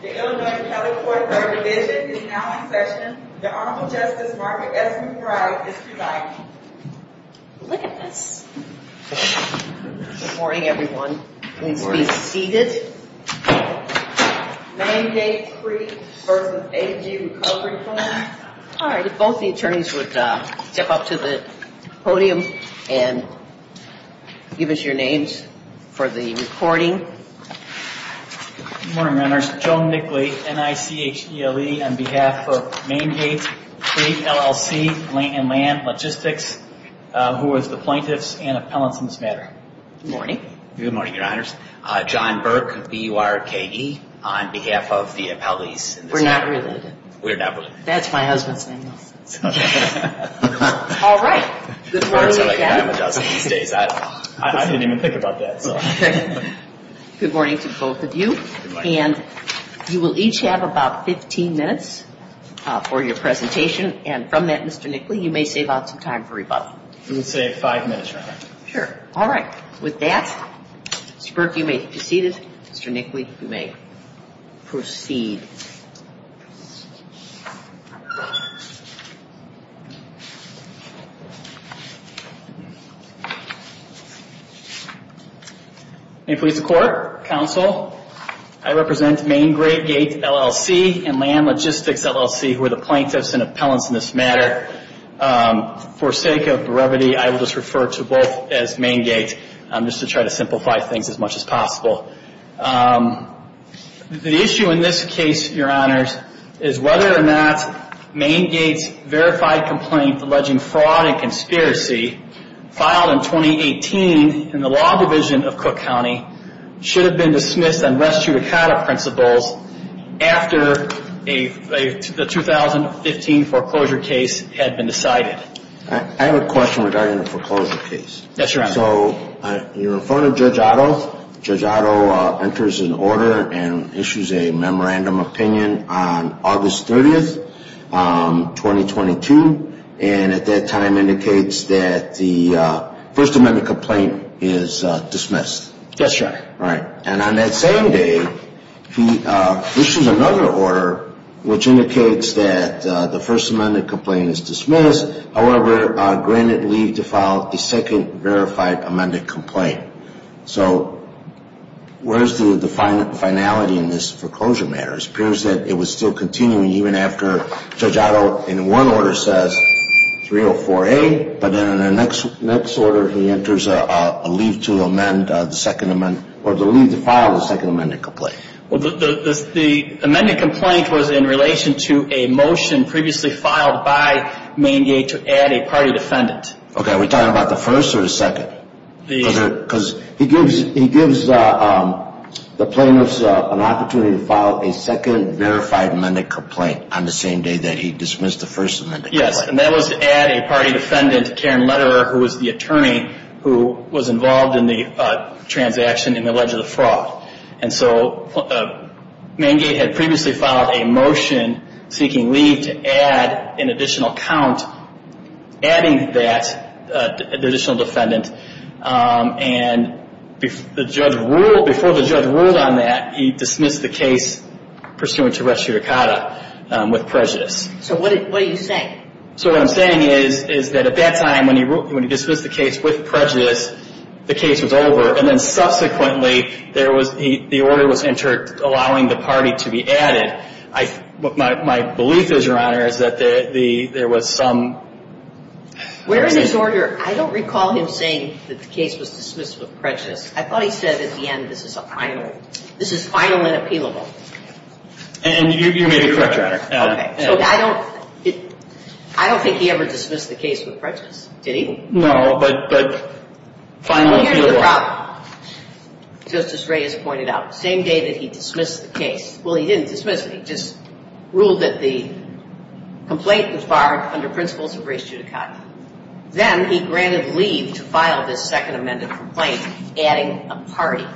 Good morning, everyone. Please be seated. Hane Gate Creek v. HG Recovery Funds. If both the attorneys would step up to the podium and give us your names for the recording. Thank you. Good morning, Your Honors. Joe Nickley, NICHDLE on behalf of Hane Gate Creek, LLC and Land Logistics, who is the plaintiffs and appellants in this matter. Good morning. Good morning, Your Honors. John Burke, BURKE on behalf of the appellees in this matter. We're not related. We're not related. That's my husband's name. Good morning to both of you. And you will each have about 15 minutes for your presentation. And from that, Mr. Nickley, you may save out some time for rebuttal. We'll save five minutes, Your Honor. Sure. All right. With that, Mr. Burke, you may be seated. Mr. Nickley, you may proceed. May it please the Court, Counsel, I represent Hane Gate Creek, LLC and Land Logistics, LLC, who are the plaintiffs and appellants in this matter. For sake of brevity, I will just refer to both as Hane Gate, just to try to simplify things as much as possible. The issue in this case, Your Honors, is whether or not Hane Gate's verified complaint alleging fraud and conspiracy, filed in 2018 in the Law Division of Cook County, should have been dismissed on res judicata principles after the 2015 foreclosure case had been decided. I have a question regarding the foreclosure case. Yes, Your Honor. So you're in front of Judge Otto. Judge Otto enters an order and issues a memorandum opinion on August 30th, 2022. And at that time indicates that the First Amendment complaint is dismissed. Yes, Your Honor. All right. And on that same day, he issues another order which indicates that the First Amendment complaint is dismissed. However, granted leave to file a second verified amended complaint. So where's the finality in this foreclosure matter? It appears that it was still continuing even after Judge Otto in one order says 304A, but then in the next order he enters a leave to amend the Second Amendment or the leave to file the Second Amendment complaint. Well, the amended complaint was in relation to a motion previously filed by Hane Gate to add a party defendant. Okay, are we talking about the first or the second? Because he gives the plaintiffs an opportunity to file a second verified amended complaint on the same day that he dismissed the First Amendment complaint. Yes, and that was to add a party defendant, Karen Lederer, who was the attorney who was involved in the transaction in the alleged fraud. And so Hane Gate had previously filed a motion seeking leave to add an additional count, adding that additional defendant. And before the judge ruled on that, he dismissed the case pursuant to res judicata with prejudice. So what are you saying? So what I'm saying is that at that time when he dismissed the case with prejudice, the case was over. And then subsequently, the order was entered allowing the party to be added. My belief is, Your Honor, is that there was some Where is this order? I don't recall him saying that the case was dismissed with prejudice. I thought he said at the end this is final. This is final and appealable. I don't think he ever dismissed the case with prejudice, did he? No, but final appealable. Here's the problem. Justice Reyes pointed out, the same day that he dismissed the case, well, he didn't dismiss it, he just ruled that the complaint was barred under principles of res judicata. Then he granted leave to file this second amended complaint adding a party.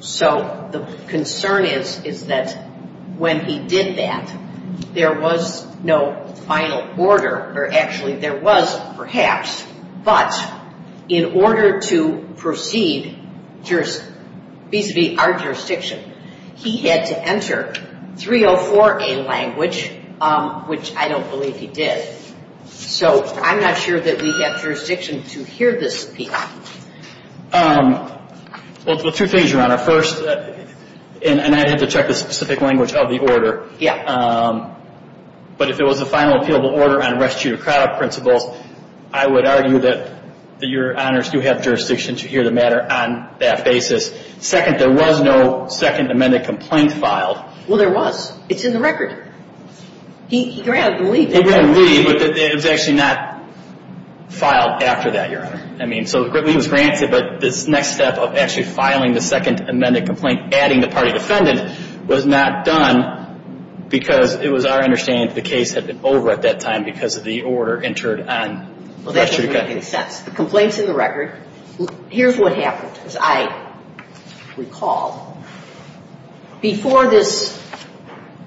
So the concern is that when he did that, there was no final order, or actually there was perhaps, but in order to proceed vis-à-vis our jurisdiction, he had to enter 304A language, which I don't believe he did. So I'm not sure that we have jurisdiction to hear this appeal. Well, two things, Your Honor. First, and I'd have to check the specific language of the order. Yeah. But if it was a final appealable order on res judicata principles, I would argue that Your Honors do have jurisdiction to hear the matter on that basis. Second, there was no second amended complaint filed. Well, there was. It's in the record. He granted leave. He granted leave, but it was actually not filed after that, Your Honor. I mean, so leave was granted, but this next step of actually filing the second amended complaint adding the party defendant was not done because it was our understanding that the case had been over at that time because of the order entered on res judicata. The complaint's in the record. Here's what happened, as I recall. Before this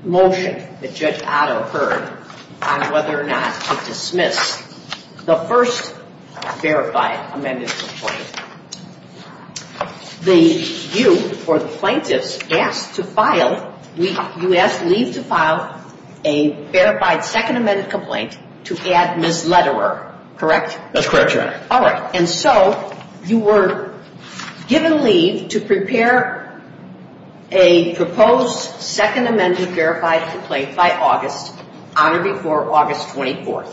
motion that Judge Otto heard on whether or not to dismiss the first verified amended complaint, you, or the plaintiffs, asked to file, you asked leave to file a verified second amended complaint to add misletterer, correct? That's correct, Your Honor. All right. And so you were given leave to prepare a proposed second amended verified complaint by August on or before August 24th,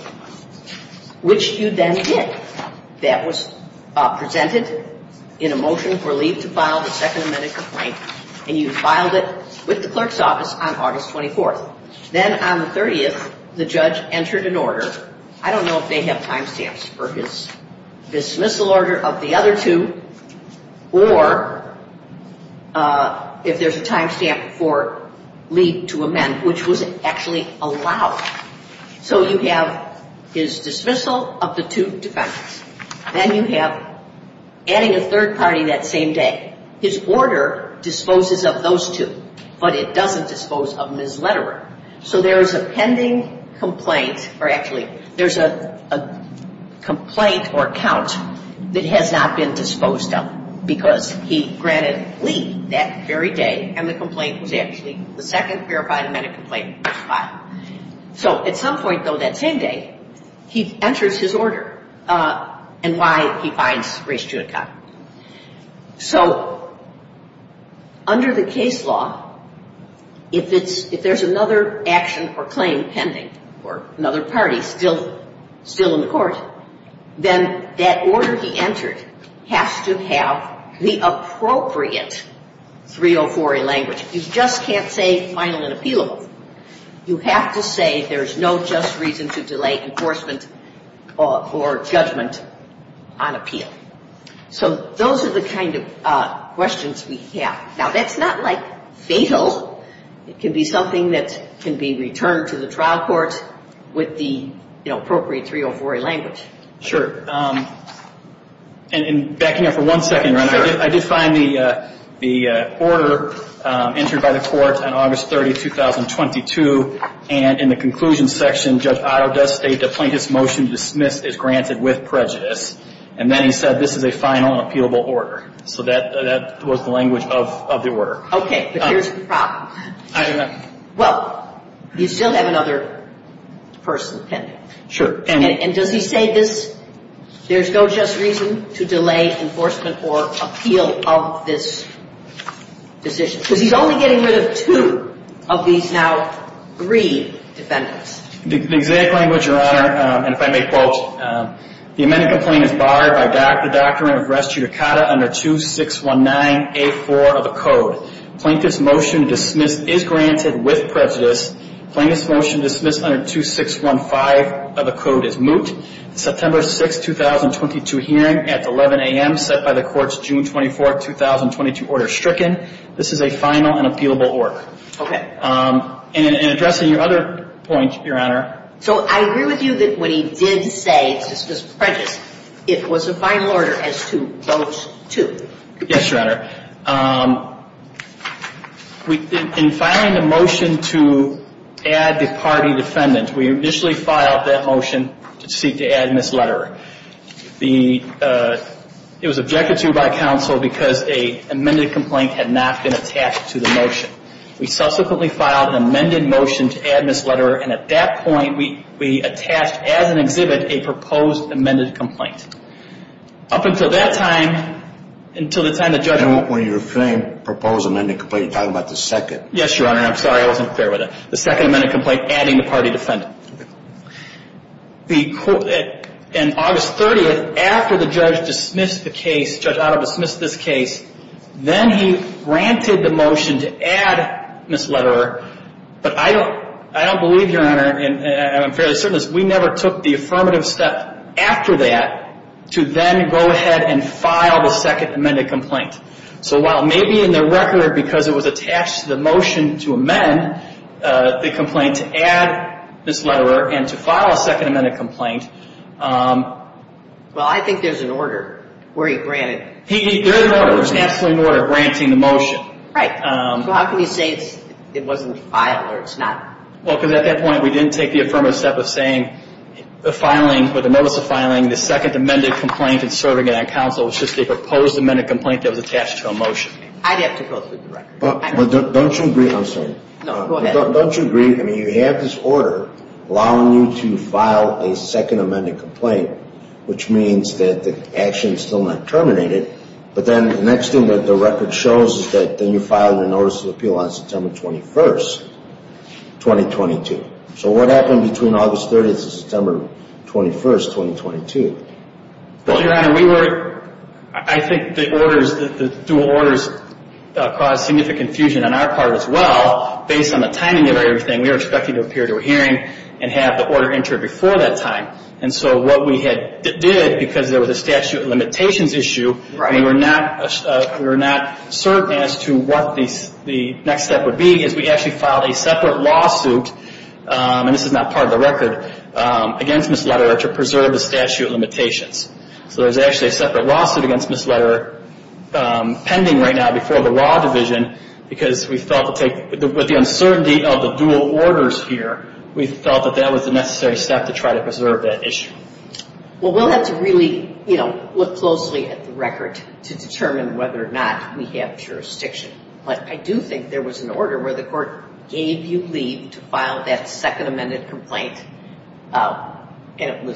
which you then did. That was presented in a motion for leave to file the second amended complaint, and you filed it with the clerk's office on August 24th. Then on the 30th, the judge entered an order. I don't know if they have time stamps for his dismissal order of the other two or if there's a time stamp for leave to amend, which was actually allowed. So you have his dismissal of the two defendants. Then you have adding a third party that same day. His order disposes of those two, but it doesn't dispose of misletterer. So there is a pending complaint or actually there's a complaint or account that has not been disposed of because he granted leave that very day and the complaint was actually the second verified amended complaint was filed. So at some point, though, that same day, he enters his order and why he finds race to account. So under the case law, if there's another action or claim pending or another party still in the court, then that order he entered has to have the appropriate 304A language. You just can't say final and appealable. You have to say there's no just reason to delay enforcement or judgment on appeal. So those are the kind of questions we have. Now, that's not like fatal. It can be something that can be returned to the trial court with the appropriate 304A language. Sure. And backing up for one second, I did find the order entered by the court on August 30, 2022. And in the conclusion section, Judge Otto does state the plaintiff's motion to dismiss is granted with prejudice. And then he said this is a final and appealable order. So that was the language of the order. Okay. But here's the problem. Well, you still have another person pending. Sure. And does he say this, there's no just reason to delay enforcement or appeal of this decision? Because he's only getting rid of two of these now three defendants. The exact language, Your Honor, and if I may quote, the amended complaint is barred by the doctrine of res judicata under 2619A4 of the code. Plaintiff's motion to dismiss is granted with prejudice. Plaintiff's motion to dismiss under 2615 of the code is moot. September 6, 2022 hearing at 11 a.m. set by the court's June 24, 2022 order stricken. This is a final and appealable order. Okay. And in addressing your other point, Your Honor. So I agree with you that what he did say, it's just prejudice, it was a final order as to those two. Yes, Your Honor. In filing the motion to add the party defendant, we initially filed that motion to seek to add misletterer. It was objected to by counsel because an amended complaint had not been attached to the motion. We subsequently filed an amended motion to add misletterer, and at that point, we attached as an exhibit a proposed amended complaint. Up until that time, until the time the judge. And when you're saying proposed amended complaint, you're talking about the second. Yes, Your Honor. I'm sorry, I wasn't clear with that. The second amended complaint adding the party defendant. Okay. In August 30th, after the judge dismissed the case, Judge Otto dismissed this case, then he granted the motion to add misletterer. But I don't believe, Your Honor, and I'm fairly certain, we never took the affirmative step after that to then go ahead and file the second amended complaint. So while maybe in the record, because it was attached to the motion to amend the complaint to add misletterer and to file a second amended complaint. Well, I think there's an order where he granted. There's an order, there's absolutely an order granting the motion. Right. So how can you say it wasn't filed or it's not? Well, because at that point, we didn't take the affirmative step of saying the filing or the notice of filing the second amended complaint and serving it on counsel. It was just a proposed amended complaint that was attached to a motion. I'd have to go through the record. But don't you agree, I'm sorry. No, go ahead. Don't you agree, I mean, you have this order allowing you to file a second amended complaint, which means that the action is still not terminated, but then the next thing that the record shows is that then you filed a notice of appeal on September 21st. 2022. So what happened between August 30th and September 21st, 2022? Well, Your Honor, we were, I think the orders, the dual orders caused significant confusion on our part as well. Based on the timing of everything, we were expecting to appear to a hearing and have the order entered before that time. And so what we did, because there was a statute of limitations issue, we were not certain as to what the next step would be. What we did is we actually filed a separate lawsuit, and this is not part of the record, against Ms. Lederer to preserve the statute of limitations. So there's actually a separate lawsuit against Ms. Lederer pending right now before the law division because we felt with the uncertainty of the dual orders here, we felt that that was the necessary step to try to preserve that issue. Well, we'll have to really, you know, look closely at the record to determine whether or not we have jurisdiction. But I do think there was an order where the court gave you leave to file that second amended complaint, and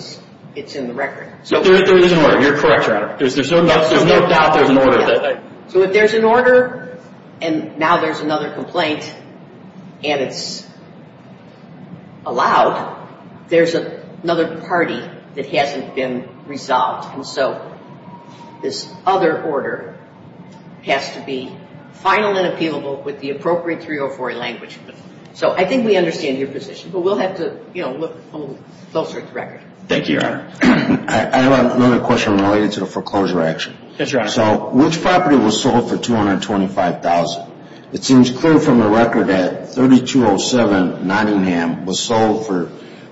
it's in the record. There is an order. You're correct, Your Honor. There's no doubt there's an order. So if there's an order, and now there's another complaint, and it's allowed, there's another party that hasn't been resolved. And so this other order has to be final and appealable with the appropriate 304 language. So I think we understand your position, but we'll have to, you know, look a little closer at the record. Thank you, Your Honor. I have another question related to the foreclosure action. Yes, Your Honor. So which property was sold for $225,000? It seems clear from the record that 3207 Nottingham was sold for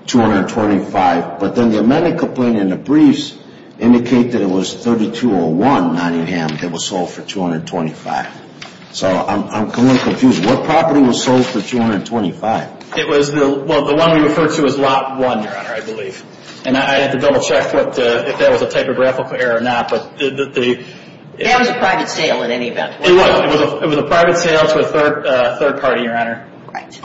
$225,000, but then the amended complaint in the briefs indicate that it was 3201 Nottingham that was sold for $225,000. So I'm completely confused. What property was sold for $225,000? Well, the one we referred to was Lot 1, Your Honor, I believe. And I'd have to double check if that was a typographical error or not. That was a private sale in any event. It was. It was a private sale to a third party, Your Honor.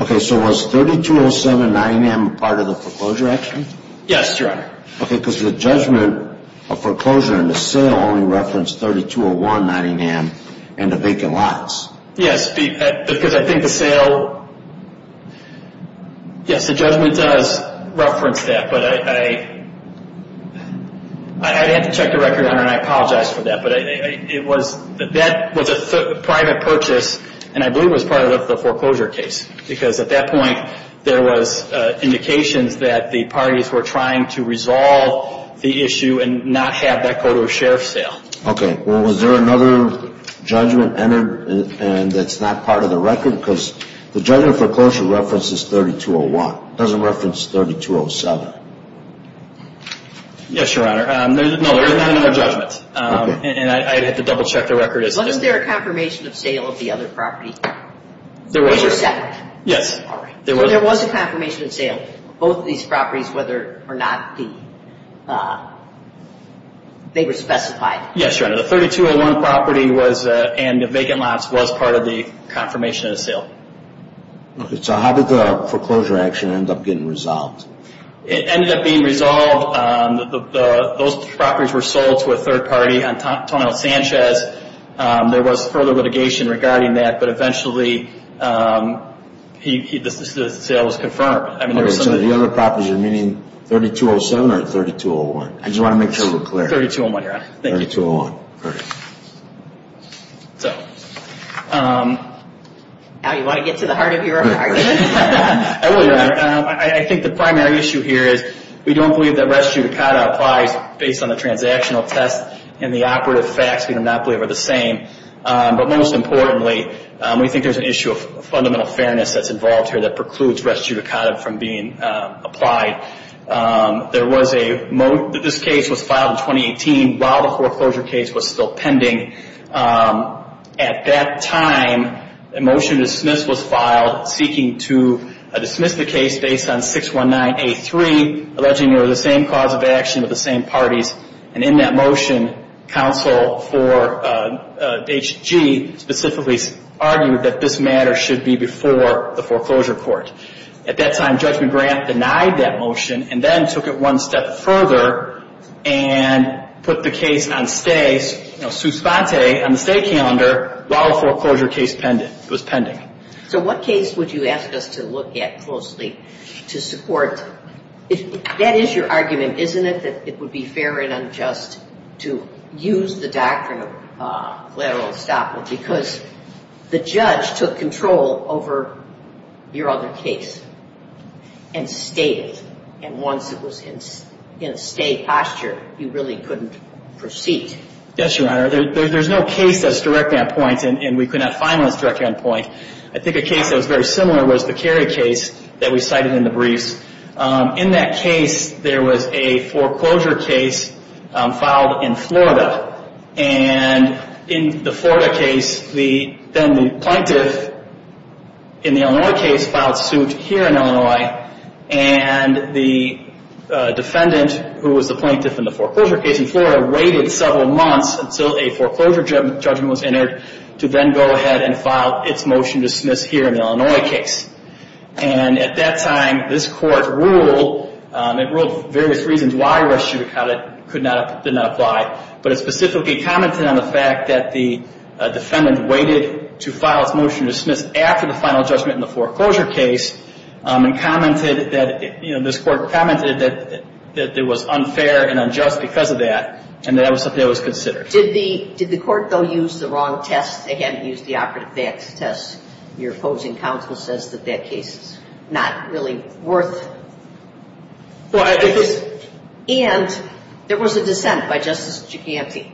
Okay, so was 3207 Nottingham part of the foreclosure action? Yes, Your Honor. Okay, because the judgment of foreclosure in the sale only referenced 3201 Nottingham and the vacant lots. Yes, because I think the sale, yes, the judgment does reference that, but I'd have to check the record, Your Honor, and I apologize for that. But it was, that was a private purchase, and I believe it was part of the foreclosure case. Because at that point, there was indications that the parties were trying to resolve the issue and not have that code of sheriff sale. Okay, well, was there another judgment entered and that's not part of the record? Because the judgment of foreclosure references 3201. It doesn't reference 3207. Yes, Your Honor. No, there were no judgments, and I'd have to double check the record. Wasn't there a confirmation of sale of the other property? There was. 307? Yes. So there was a confirmation of sale of both of these properties, whether or not they were specified? Yes, Your Honor. The 3201 property was, and the vacant lots, was part of the confirmation of sale. Okay, so how did the foreclosure action end up getting resolved? It ended up being resolved, those properties were sold to a third party, Antonio Sanchez. There was further litigation regarding that, but eventually the sale was confirmed. So the other properties are meaning 3207 or 3201? I just want to make sure we're clear. 3201, Your Honor. Thank you. 3201, perfect. So. Al, you want to get to the heart of your argument? I will, Your Honor. I think the primary issue here is we don't believe that res judicata applies based on the transactional test and the operative facts. We do not believe they're the same. But most importantly, we think there's an issue of fundamental fairness that's involved here that precludes res judicata from being applied. There was a, this case was filed in 2018 while the foreclosure case was still pending. At that time, a motion to dismiss was filed seeking to dismiss the case based on 619A3, alleging they were the same cause of action with the same parties. And in that motion, counsel for H.G. specifically argued that this matter should be before the foreclosure court. At that time, Judge McGrath denied that motion and then took it one step further and put the case on stay, you know, su sponte, on the stay calendar while the foreclosure case was pending. So what case would you ask us to look at closely to support, that is your argument, isn't it, that it would be fair and unjust to use the doctrine of collateral estoppel because the judge took control over your other case and stayed it, and once it was in a stay posture, you really couldn't proceed. Yes, Your Honor. There's no case that's directly on point, and we could not find one that's directly on point. I think a case that was very similar was the Cary case that we cited in the briefs. In that case, there was a foreclosure case filed in Florida, and in the Florida case, then the plaintiff in the Illinois case filed suit here in Illinois, and the defendant, who was the plaintiff in the foreclosure case in Florida, waited several months until a foreclosure judgment was entered to then go ahead and file its motion to dismiss here in the Illinois case. And at that time, this court ruled, it ruled various reasons why res judicata did not apply, but it specifically commented on the fact that the defendant waited to file its motion to dismiss after the final judgment in the foreclosure case and commented that, you know, this court commented that it was unfair and unjust because of that, and that was something that was considered. Did the court, though, use the wrong test? They hadn't used the operative facts test. Your opposing counsel says that that case is not really worth it. And there was a dissent by Justice Giganti.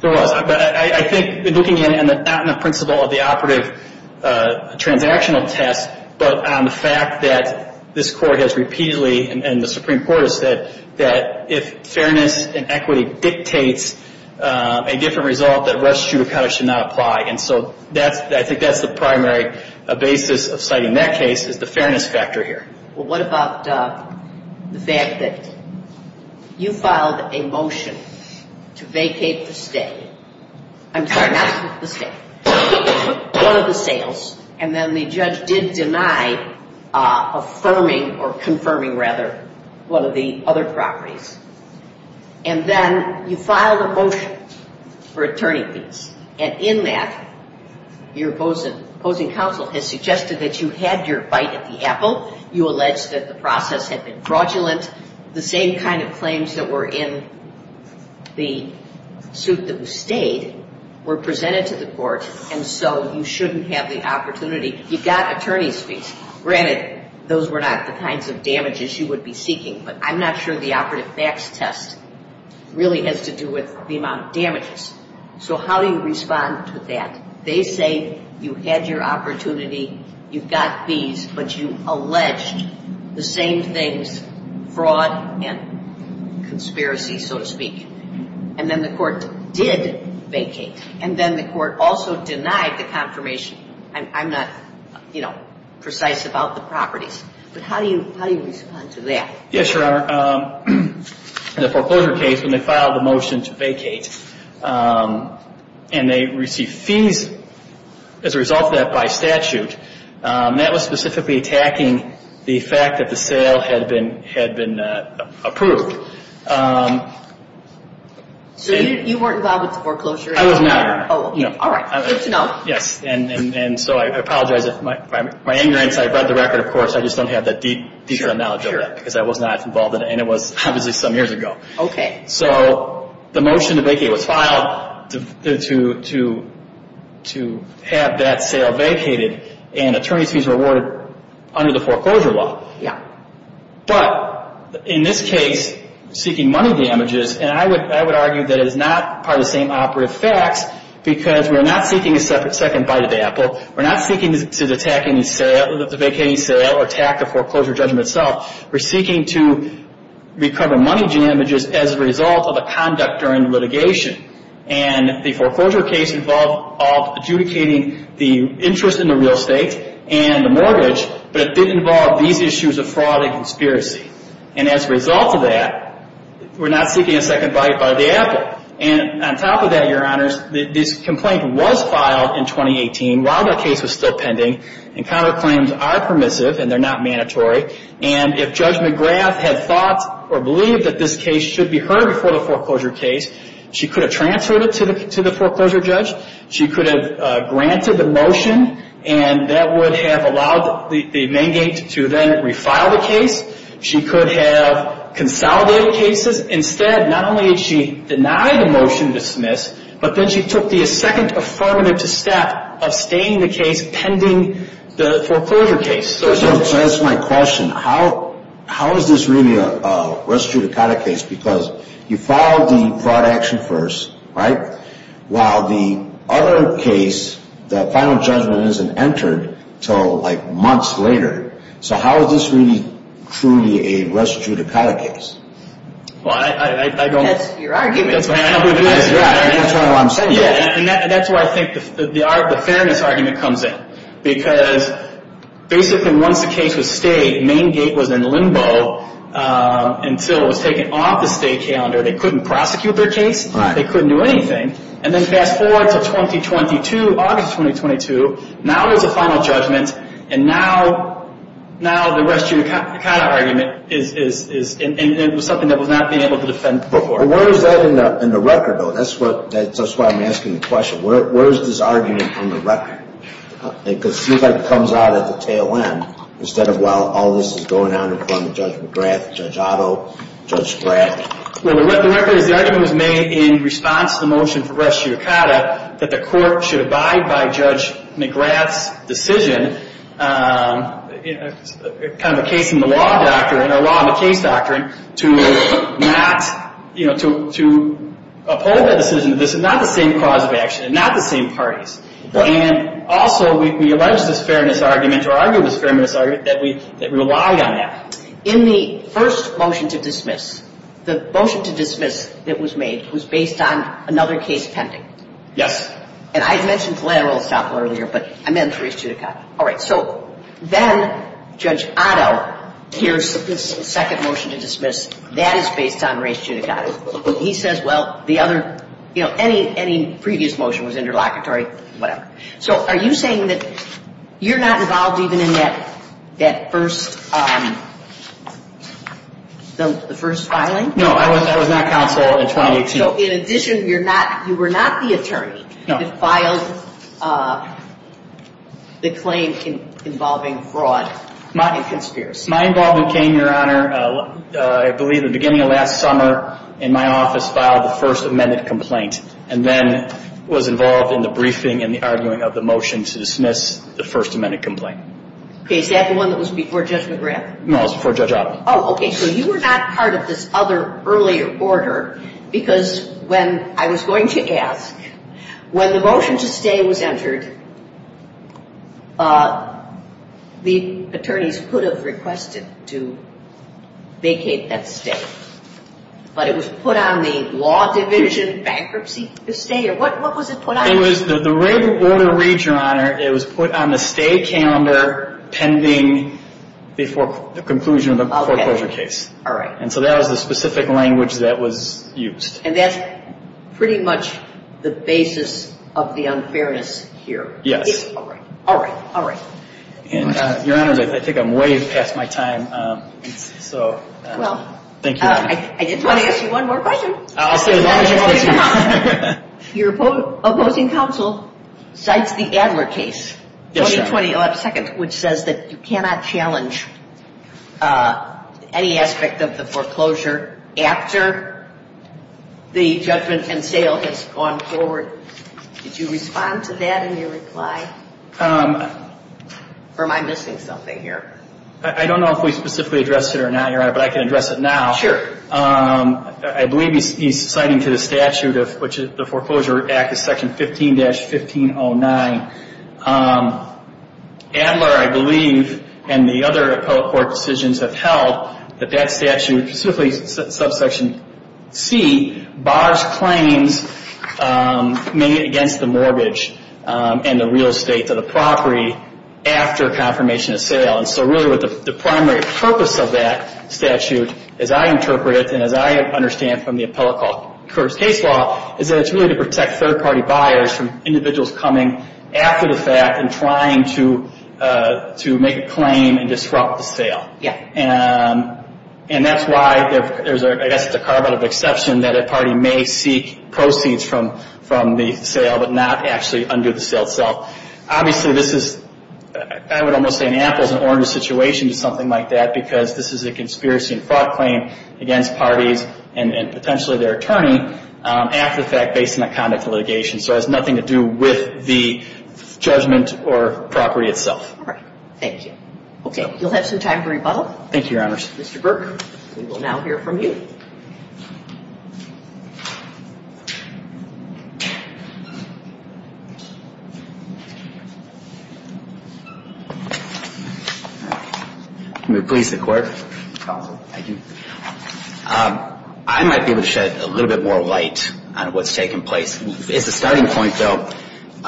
There was, but I think looking not in the principle of the operative transactional test, but on the fact that this court has repeatedly, and the Supreme Court has said, that if fairness and equity dictates a different result, that res judicata should not apply. And so I think that's the primary basis of citing that case is the fairness factor here. Well, what about the fact that you filed a motion to vacate the stay. I'm sorry, not the stay. You took one of the sales, and then the judge did deny affirming or confirming, rather, one of the other properties. And then you filed a motion for attorney fees. And in that, your opposing counsel has suggested that you had your bite at the apple. You alleged that the process had been fraudulent. The same kind of claims that were in the suit that was stayed were presented to the court, and so you shouldn't have the opportunity. You got attorney fees. Granted, those were not the kinds of damages you would be seeking, but I'm not sure the operative facts test really has to do with the amount of damages. So how do you respond to that? They say you had your opportunity, you got fees, but you alleged the same things, fraud and conspiracy, so to speak. And then the court did vacate. And then the court also denied the confirmation. I'm not, you know, precise about the properties. But how do you respond to that? Yes, Your Honor. In the foreclosure case, when they filed the motion to vacate, and they received fees as a result of that by statute, that was specifically attacking the fact that the sale had been approved. So you weren't involved with the foreclosure? I was not. All right. Good to know. Yes. And so I apologize if my ignorance. I read the record, of course. I just don't have that deep knowledge of that because I was not involved in it, and it was obviously some years ago. Okay. So the motion to vacate was filed to have that sale vacated, and attorneys fees were awarded under the foreclosure law. Yes. But in this case, seeking money damages, and I would argue that it is not part of the same operative facts because we are not seeking a second bite of the apple. We're not seeking to attack the vacating sale or attack the foreclosure judgment itself. We're seeking to recover money damages as a result of a conduct during litigation. And the foreclosure case involved adjudicating the interest in the real estate and the mortgage, but it did involve these issues of fraud and conspiracy. And as a result of that, we're not seeking a second bite by the apple. And on top of that, Your Honors, this complaint was filed in 2018 while the case was still pending, and counterclaims are permissive and they're not mandatory, and if Judge McGrath had thought or believed that this case should be heard before the foreclosure case, she could have transferred it to the foreclosure judge, she could have granted the motion, and that would have allowed the Mengate to then refile the case. She could have consolidated cases. Instead, not only did she deny the motion to dismiss, but then she took the second affirmative step of staying the case pending the foreclosure case. So to answer my question, how is this really a res judicata case? Because you filed the fraud action first, right? While the other case, the final judgment isn't entered until like months later. So how is this really truly a res judicata case? Well, I don't... That's your argument. That's what I'm saying. And that's where I think the fairness argument comes in. Because basically once the case was stayed, Mengate was in limbo until it was taken off the stay calendar. They couldn't prosecute their case. They couldn't do anything. And then fast forward to 2022, August 2022. Now there's a final judgment, and now the res judicata argument is something that was not being able to defend before. But where is that in the record, though? That's why I'm asking the question. Where is this argument on the record? Because it seems like it comes out at the tail end instead of, well, all this is going on in front of Judge McGrath, Judge Otto, Judge Spratt. Well, the record is the argument was made in response to the motion for res judicata that the court should abide by Judge McGrath's decision. It's kind of a case in the law doctrine, or law in the case doctrine, to uphold that decision. This is not the same cause of action and not the same parties. And also we allege this fairness argument or argue this fairness argument that we relied on that. In the first motion to dismiss, the motion to dismiss that was made was based on another case pending. Yes. And I had mentioned collateral estoppel earlier, but I meant res judicata. All right. So then Judge Otto hears this second motion to dismiss. That is based on res judicata. He says, well, the other, you know, any previous motion was interlocutory, whatever. So are you saying that you're not involved even in that first filing? No, I was not counsel in 2018. So in addition, you were not the attorney that filed the claim involving fraud and conspiracy? My involvement came, Your Honor, I believe at the beginning of last summer in my office filed the first amended complaint and then was involved in the briefing and the arguing of the motion to dismiss the first amended complaint. Okay. Is that the one that was before Judge McGrath? No, it was before Judge Otto. Oh, okay. So you were not part of this other earlier order because when I was going to ask, when the motion to stay was entered, the attorneys could have requested to vacate that stay. But it was put on the law division bankruptcy to stay? Or what was it put on? It was the red order, read, Your Honor, it was put on the stay calendar pending the conclusion of the foreclosure case. All right. And so that was the specific language that was used. And that's pretty much the basis of the unfairness here? Yes. All right, all right, all right. Your Honor, I think I'm way past my time, so thank you. I just want to ask you one more question. I'll say as long as you want to. Your opposing counsel cites the Adler case, 20-22, which says that you cannot challenge any aspect of the foreclosure after the judgment and sale has gone forward. Did you respond to that in your reply? Or am I missing something here? I don't know if we specifically addressed it or not, Your Honor, but I can address it now. Sure. I believe he's citing to the statute of which the foreclosure act is section 15-1509. Adler, I believe, and the other appellate court decisions have held that that statute, specifically subsection C, bars claims made against the mortgage and the real estate to the property after confirmation of sale. And so really what the primary purpose of that statute, as I interpret it, and as I understand from the appellate court's case law, is that it's really to protect third-party buyers from individuals coming after the fact and trying to make a claim and disrupt the sale. Yeah. And that's why there's, I guess, a carve-out of exception that a party may seek proceeds from the sale but not actually undo the sale itself. Obviously, this is, I would almost say an apples and oranges situation to something like that because this is a conspiracy and fraud claim against parties and potentially their attorney after the fact based on the conduct of litigation. So it has nothing to do with the judgment or property itself. All right. Thank you. Okay. You'll have some time for rebuttal. Thank you, Your Honors. Mr. Burke, we will now hear from you. Can we please, the court? Counsel. Thank you. I might be able to shed a little bit more light on what's taken place. As a starting point, though, Your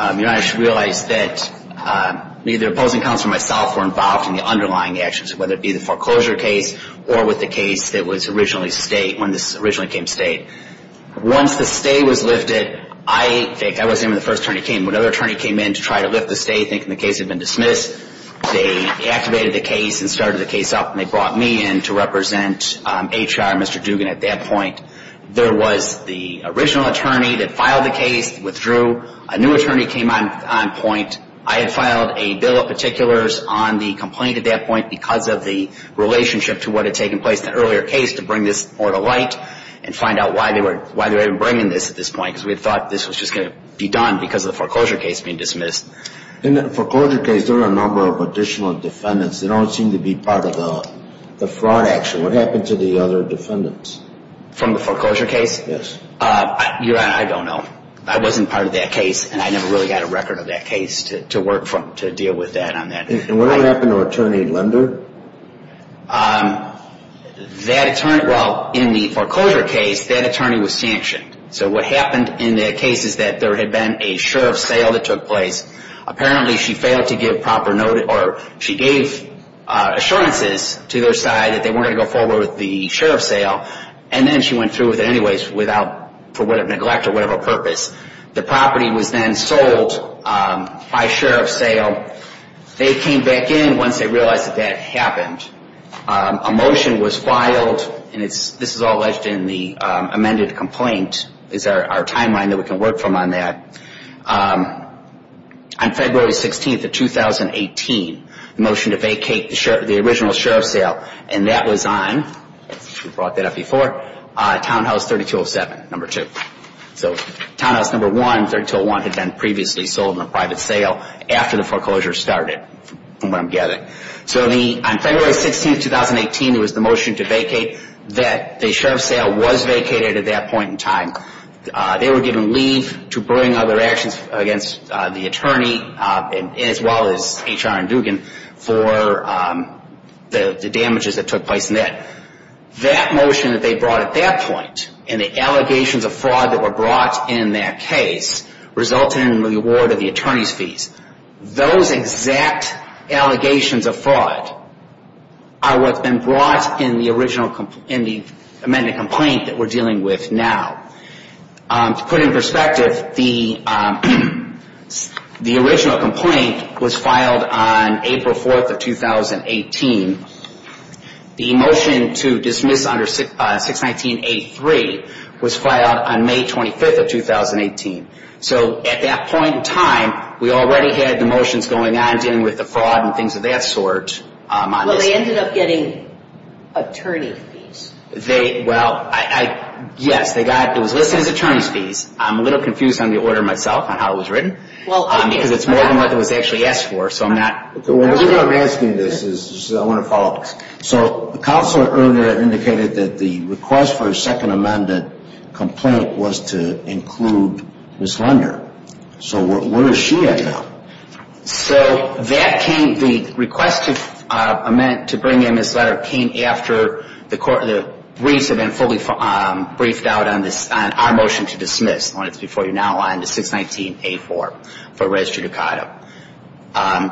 Honor, I should realize that me, the opposing counsel, and myself were involved in the underlying actions, whether it be the foreclosure case or with the case that was originally State, when this originally became State. Once the stay was lifted, I think, I wasn't even the first attorney who came, but another attorney came in to try to lift the stay, thinking the case had been dismissed. They activated the case and started the case up, and they brought me in to represent HR, Mr. Dugan, at that point. There was the original attorney that filed the case, withdrew. A new attorney came on point. I had filed a bill of particulars on the complaint at that point because of the relationship to what had taken place in the earlier case to bring this more to light and find out why they were even bringing this at this point because we had thought this was just going to be done because of the foreclosure case being dismissed. In the foreclosure case, there are a number of additional defendants that don't seem to be part of the fraud action. What happened to the other defendants? From the foreclosure case? Yes. Your Honor, I don't know. I wasn't part of that case, and I never really got a record of that case to work from to deal with that. And what happened to Attorney Linder? That attorney, well, in the foreclosure case, that attorney was sanctioned. So what happened in the case is that there had been a sheriff's sale that took place. Apparently, she failed to give proper notice, or she gave assurances to their side that they weren't going to go forward with the sheriff's sale, and then she went through with it anyways for whatever neglect or whatever purpose. The property was then sold by sheriff's sale. They came back in once they realized that that happened. A motion was filed, and this is all ledged in the amended complaint, is our timeline that we can work from on that. On February 16th of 2018, the motion to vacate the original sheriff's sale, and that was on, if you brought that up before, townhouse 3207, number 2. So townhouse number 1, 3201, had been previously sold in a private sale after the foreclosure started, from what I'm getting. So on February 16th, 2018, there was the motion to vacate, that the sheriff's sale was vacated at that point in time. They were given leave to bring other actions against the attorney, as well as HR and Dugan, for the damages that took place in that. That motion that they brought at that point, and the allegations of fraud that were brought in that case, resulted in the award of the attorney's fees. Those exact allegations of fraud are what's been brought in the amended complaint that we're dealing with now. To put it in perspective, the original complaint was filed on April 4th of 2018. The motion to dismiss under 619.83 was filed on May 25th of 2018. So at that point in time, we already had the motions going on, dealing with the fraud and things of that sort. Well, they ended up getting attorney fees. Well, yes, it was listed as attorney's fees. I'm a little confused on the order myself, on how it was written, because it's more than what was actually asked for. The reason I'm asking this is I want to follow up. So the counselor earlier indicated that the request for a second amended complaint was to include Ms. Lunder. So where is she at now? So the request to amend, to bring in Ms. Lunder, came after the briefs had been fully briefed out on our motion to dismiss, and it's before you now, on the 619.84 for res judicata.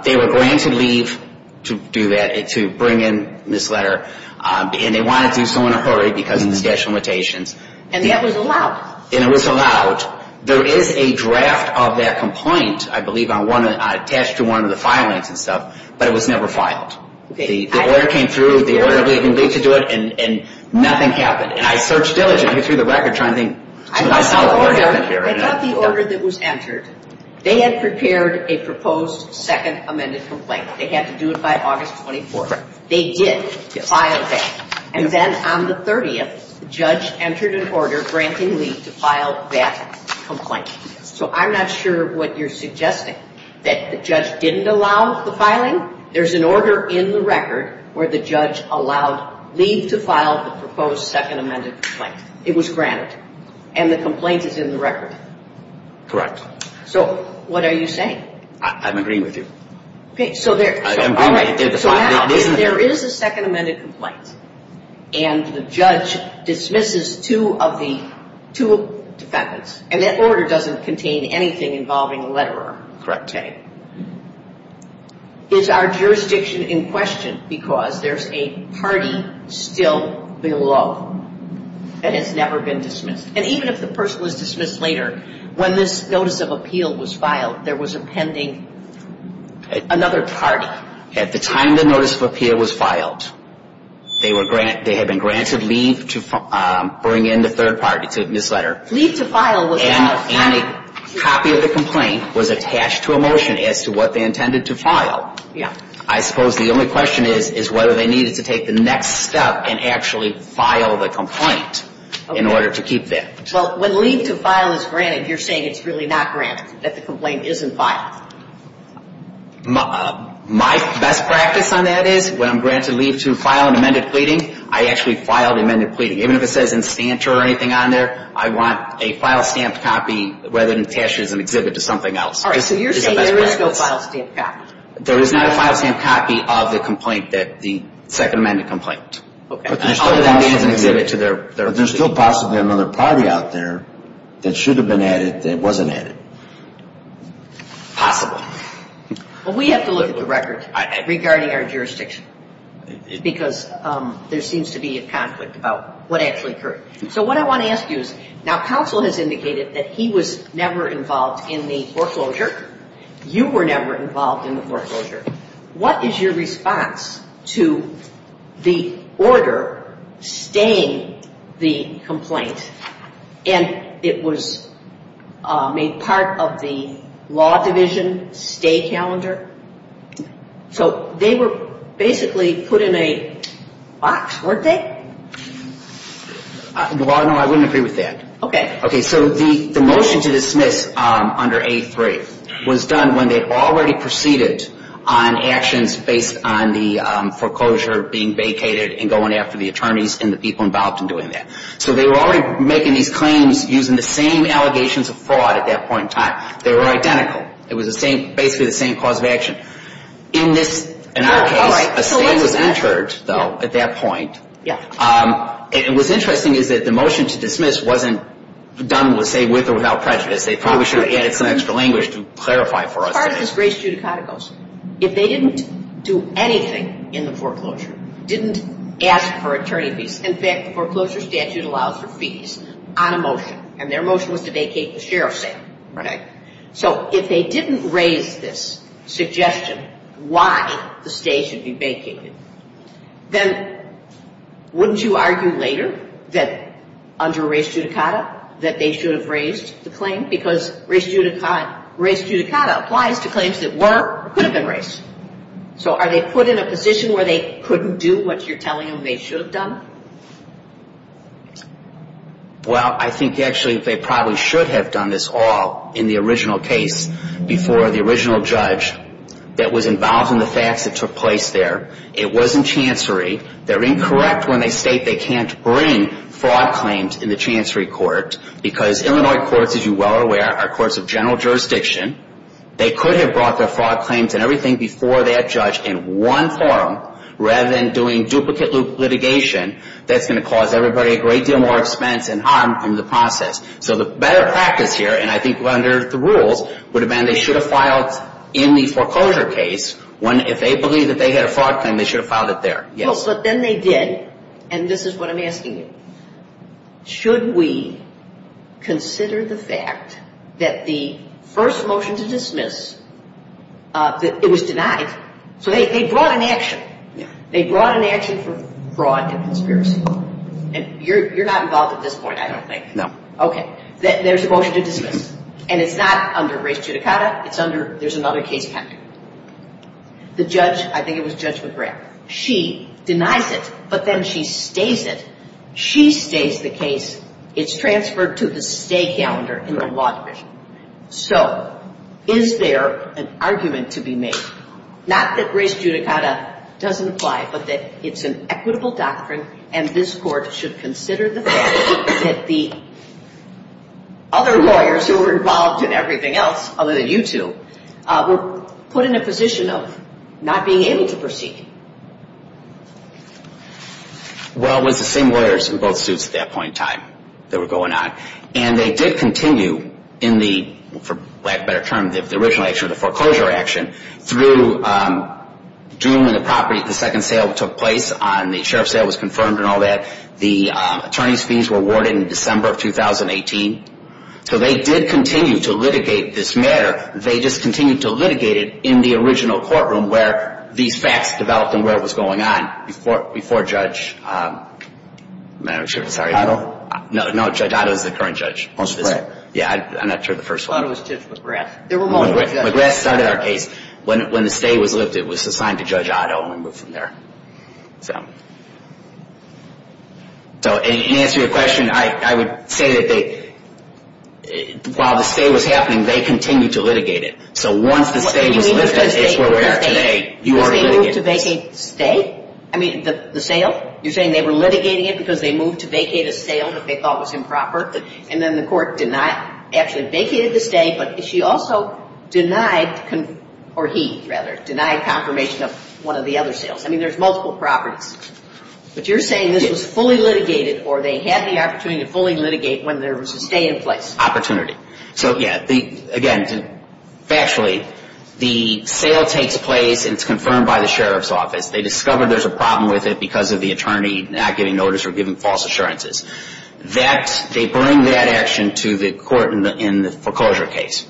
They were granted leave to do that, to bring in Ms. Lunder, and they wanted to do so in a hurry because of the statute of limitations. And that was allowed. And it was allowed. There is a draft of that complaint, I believe, attached to one of the filings and stuff, but it was never filed. The order came through, the order of leave to do it, and nothing happened. And I searched diligently through the record, trying to think to myself. I got the order that was entered. They had prepared a proposed second amended complaint. They had to do it by August 24th. They did file that. And then on the 30th, the judge entered an order granting leave to file that complaint. So I'm not sure what you're suggesting, that the judge didn't allow the filing? There's an order in the record where the judge allowed leave to file the proposed second amended complaint. It was granted. And the complaint is in the record. Correct. So what are you saying? I'm agreeing with you. Okay, so there is a second amended complaint. And the judge dismisses two of the defendants. And that order doesn't contain anything involving a letterer. Correct. Okay. Is our jurisdiction in question? Because there's a party still below that has never been dismissed. And even if the person was dismissed later, when this notice of appeal was filed, there was a pending another party. At the time the notice of appeal was filed, they had been granted leave to bring in the third party to this letter. Leave to file was a motion. And a copy of the complaint was attached to a motion as to what they intended to file. Yeah. I suppose the only question is whether they needed to take the next step and actually file the complaint in order to keep that. Well, when leave to file is granted, you're saying it's really not granted, that the complaint isn't filed. My best practice on that is when I'm granted leave to file an amended pleading, I actually file the amended pleading. Even if it says in stancher or anything on there, I want a file stamped copy rather than attached as an exhibit to something else. All right. So you're saying there is no file stamped copy. There is not a file stamped copy of the complaint that the second amended complaint. Okay. Other than as an exhibit to their. But there's still possibly another party out there that should have been added that wasn't added. Possible. Well, we have to look at the record regarding our jurisdiction because there seems to be a conflict about what actually occurred. So what I want to ask you is now counsel has indicated that he was never involved in the foreclosure. You were never involved in the foreclosure. What is your response to the order staying the complaint and it was made part of the law division stay calendar? So they were basically put in a box, weren't they? No, I wouldn't agree with that. Okay. Okay. So the motion to dismiss under A3 was done when they already proceeded on actions based on the foreclosure being vacated and going after the attorneys and the people involved in doing that. So they were already making these claims using the same allegations of fraud at that point in time. They were identical. It was basically the same cause of action. In our case, a stay was entered, though, at that point. Yeah. And what's interesting is that the motion to dismiss wasn't done, let's say, with or without prejudice. They probably should have added some extra language to clarify for us. As far as this grace judicata goes, if they didn't do anything in the foreclosure, didn't ask for attorney fees, in fact, the foreclosure statute allows for fees on a motion, and their motion was to vacate the sheriff's sale. Right. Wouldn't you argue later that under grace judicata that they should have raised the claim? Because grace judicata applies to claims that were or could have been raised. So are they put in a position where they couldn't do what you're telling them they should have done? Well, I think actually they probably should have done this all in the original case before the original judge that was involved in the facts that took place there. It wasn't chancery. They're incorrect when they state they can't bring fraud claims in the chancery court because Illinois courts, as you well are aware, are courts of general jurisdiction. They could have brought their fraud claims and everything before that judge in one forum rather than doing duplicate loop litigation that's going to cause everybody a great deal more expense and harm in the process. So the better practice here, and I think under the rules, would have been they should have filed in the foreclosure case if they believed that they had a fraud claim, they should have filed it there. Yes. Well, but then they did, and this is what I'm asking you. Should we consider the fact that the first motion to dismiss, it was denied, so they brought an action. Yeah. They brought an action for fraud and conspiracy. And you're not involved at this point, I don't think. No. Okay. There's a motion to dismiss, and it's not under race judicata, it's under, there's another case pending. The judge, I think it was Judge McGrath, she denies it, but then she stays it. She stays the case. It's transferred to the stay calendar in the law division. So is there an argument to be made, not that race judicata doesn't apply, but that it's an equitable doctrine and this court should consider the fact that the other lawyers who were involved in everything else, other than you two, were put in a position of not being able to proceed? Well, it was the same lawyers in both suits at that point in time that were going on. And they did continue in the, for lack of a better term, the original action, the foreclosure action, through June when the property, the second sale took place, and the sheriff's sale was confirmed and all that. The attorney's fees were awarded in December of 2018. So they did continue to litigate this matter. They just continued to litigate it in the original courtroom where these facts developed and where it was going on before Judge, I'm not sure, sorry. Otto? No, Judge Otto is the current judge. I'm sorry. Yeah, I'm not sure of the first one. I thought it was Judge McGrath. There were more judges. McGrath started our case. When the stay was lifted, it was assigned to Judge Otto and we moved from there. So in answer to your question, I would say that while the stay was happening, they continued to litigate it. So once the stay was lifted, it's where we are today. You ordered litigation. They moved to vacate the stay? I mean, the sale? You're saying they were litigating it because they moved to vacate a sale that they thought was improper? And then the court denied, actually vacated the stay, but she also denied, or he rather, denied confirmation of one of the other sales. I mean, there's multiple properties. But you're saying this was fully litigated or they had the opportunity to fully litigate when there was a stay in place? Opportunity. So, yeah, again, factually, the sale takes place and it's confirmed by the sheriff's office. They discover there's a problem with it because of the attorney not giving notice or giving false assurances. They bring that action to the court in the foreclosure case.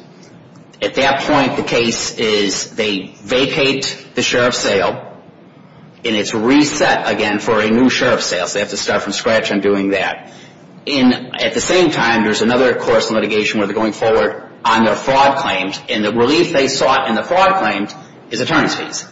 At that point, the case is they vacate the sheriff's sale, and it's reset again for a new sheriff's sale. So they have to start from scratch on doing that. At the same time, there's another course of litigation where they're going forward on their fraud claims, and the relief they sought in the fraud claims is attorney's fees.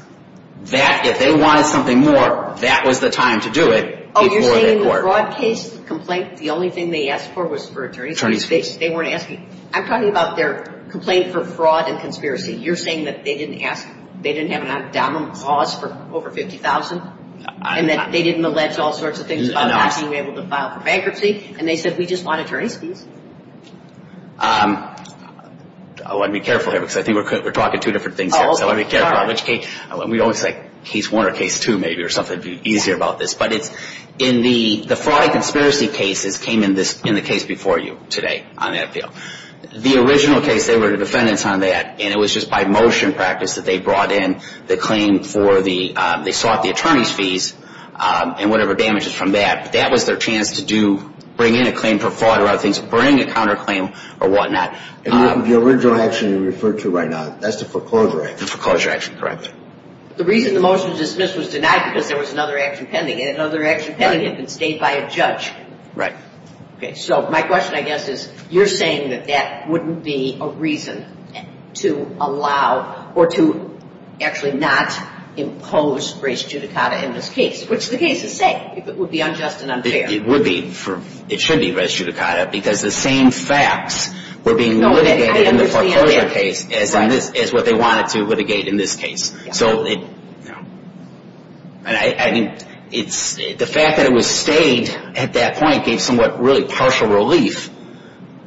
That, if they wanted something more, that was the time to do it before that court. Oh, you're saying the fraud case, the complaint, the only thing they asked for was for attorney's fees? They weren't asking. I'm talking about their complaint for fraud and conspiracy. You're saying that they didn't ask, they didn't have an abdominable cause for over $50,000, and that they didn't allege all sorts of things about not being able to file for bankruptcy, and they said we just want attorney's fees? I want to be careful here because I think we're talking two different things here. I want to be careful on which case. We always say case one or case two maybe or something. It would be easier about this. The fraud and conspiracy cases came in the case before you today on that appeal. The original case, they were the defendants on that, and it was just by motion practice that they brought in the claim for the attorney's fees and whatever damages from that. That was their chance to bring in a claim for fraud or other things, bring a counterclaim or whatnot. The original action you referred to right now, that's the foreclosure action? The foreclosure action, correct. The reason the motion was dismissed was denied because there was another action pending, and another action pending had been stated by a judge. Right. So my question, I guess, is you're saying that that wouldn't be a reason to allow or to actually not impose res judicata in this case, which the case is saying, if it would be unjust and unfair. It would be. It should be res judicata because the same facts were being litigated in the foreclosure case as what they wanted to litigate in this case. So the fact that it was stayed at that point gave somewhat really partial relief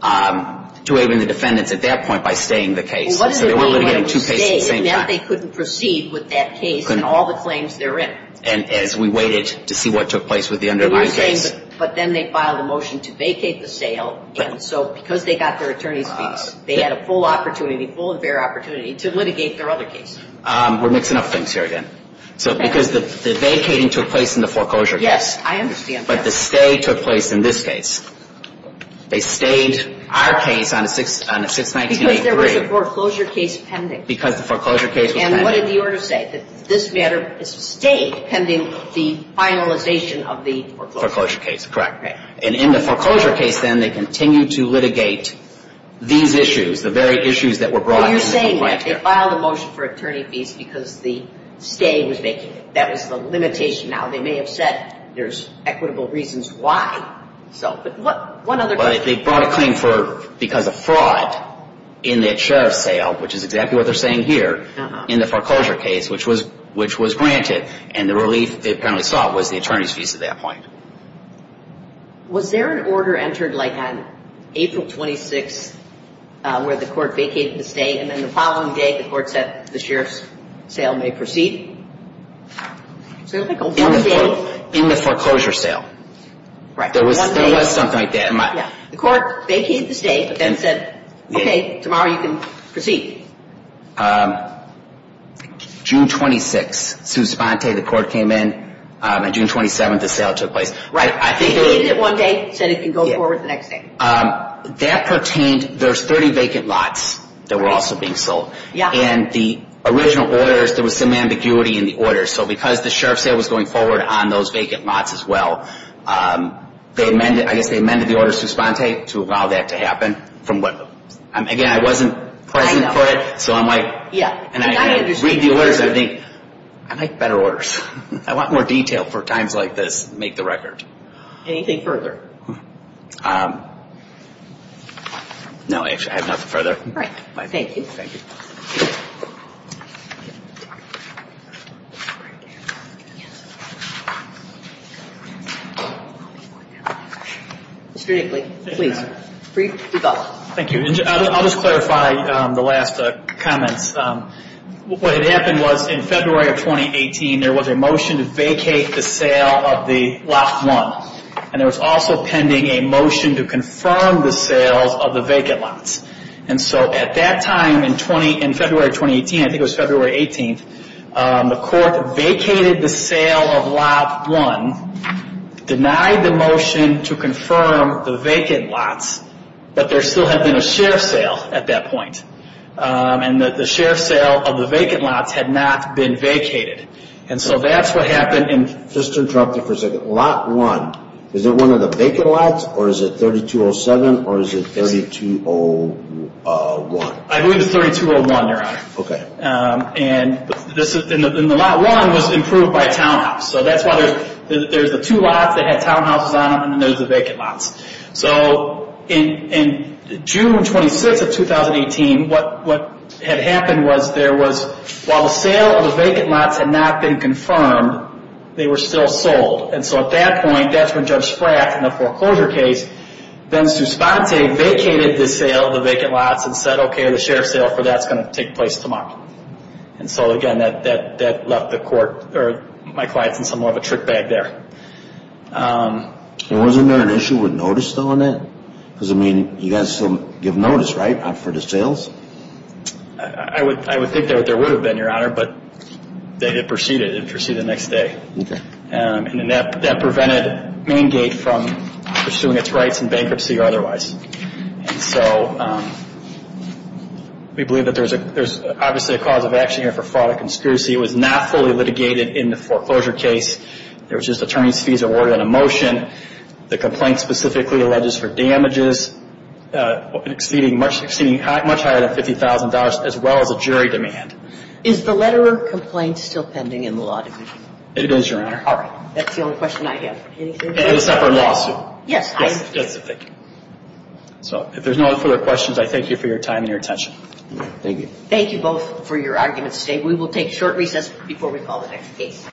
to even the defendants at that point by staying the case. So they were litigating two cases at the same time. They couldn't proceed with that case and all the claims therein. And as we waited to see what took place with the underlying case. But then they filed a motion to vacate the sale, and so because they got their attorney's fees, they had a full opportunity, full and fair opportunity to litigate their other case. We're mixing up things here again. So because the vacating took place in the foreclosure case. Yes, I understand. But the stay took place in this case. They stayed our case on a 619-83. Because there was a foreclosure case pending. Because the foreclosure case was pending. And what did the order say? That this matter is stayed pending the finalization of the foreclosure case. Foreclosure case, correct. And in the foreclosure case, then, they continued to litigate these issues, the very issues that were brought up. You're saying that they filed a motion for attorney fees because the stay was vacated. That was the limitation. Now, they may have said there's equitable reasons why. But they brought a claim because of fraud in that sheriff's sale, which is exactly what they're saying here in the foreclosure case, which was granted. And the relief they apparently sought was the attorney's fees at that point. Was there an order entered, like, on April 26th where the court vacated the stay, and then the following day the court said the sheriff's sale may proceed? In the foreclosure sale. Right. There was something like that. The court vacated the stay, but then said, okay, tomorrow you can proceed. June 26th, Suspante, the court came in, and June 27th the sale took place. Right. They vacated it one day, said it can go forward the next day. That pertained, there's 30 vacant lots that were also being sold. Yeah. And the original orders, there was some ambiguity in the orders. So because the sheriff's sale was going forward on those vacant lots as well, I guess they amended the order of Suspante to allow that to happen. Again, I wasn't present for it, so I'm like, and I read the orders and I think, I like better orders. I want more detail for times like this to make the record. Anything further? No, I have nothing further. All right. Thank you. Thank you. Mr. Eakley, please. Brief thoughts. Thank you. I'll just clarify the last comments. What had happened was in February of 2018, there was a motion to vacate the sale of the lot one. And there was also pending a motion to confirm the sales of the vacant lots. And so at that time in February of 2018, I think it was February 18th, the court vacated the sale of lot one, denied the motion to confirm the vacant lots, but there still had been a sheriff's sale at that point. And the sheriff's sale of the vacant lots had not been vacated. And so that's what happened. Just to interrupt you for a second. Is it one of the vacant lots or is it 3207 or is it 3201? I believe it's 3201, Your Honor. Okay. And the lot one was improved by a townhouse. So that's why there's the two lots that had townhouses on them and then there's the vacant lots. So in June 26th of 2018, what had happened was there was, while the sale of the vacant lots had not been confirmed, they were still sold. And so at that point, that's when Judge Frack, in the foreclosure case, then Suspante vacated the sale of the vacant lots and said, okay, the sheriff's sale for that is going to take place tomorrow. And so, again, that left the court or my clients in some sort of a trick bag there. And wasn't there an issue with notice still on that? Because, I mean, you guys still give notice, right, for the sales? I would think that there would have been, Your Honor, but they did proceed it. It proceeded the next day. Okay. And that prevented Maingate from pursuing its rights in bankruptcy or otherwise. And so we believe that there's obviously a cause of action here for fraud and conspiracy. It was not fully litigated in the foreclosure case. It was just attorney's fees awarded on a motion. The complaint specifically alleges for damages exceeding much higher than $50,000, as well as a jury demand. Is the letter of complaint still pending in the law division? It is, Your Honor. All right. That's the only question I have. Anything else? Except for a lawsuit. Yes. Yes. Thank you. So if there's no further questions, I thank you for your time and your attention. Thank you. Thank you both for your arguments today. We will take short recess before we call the next case.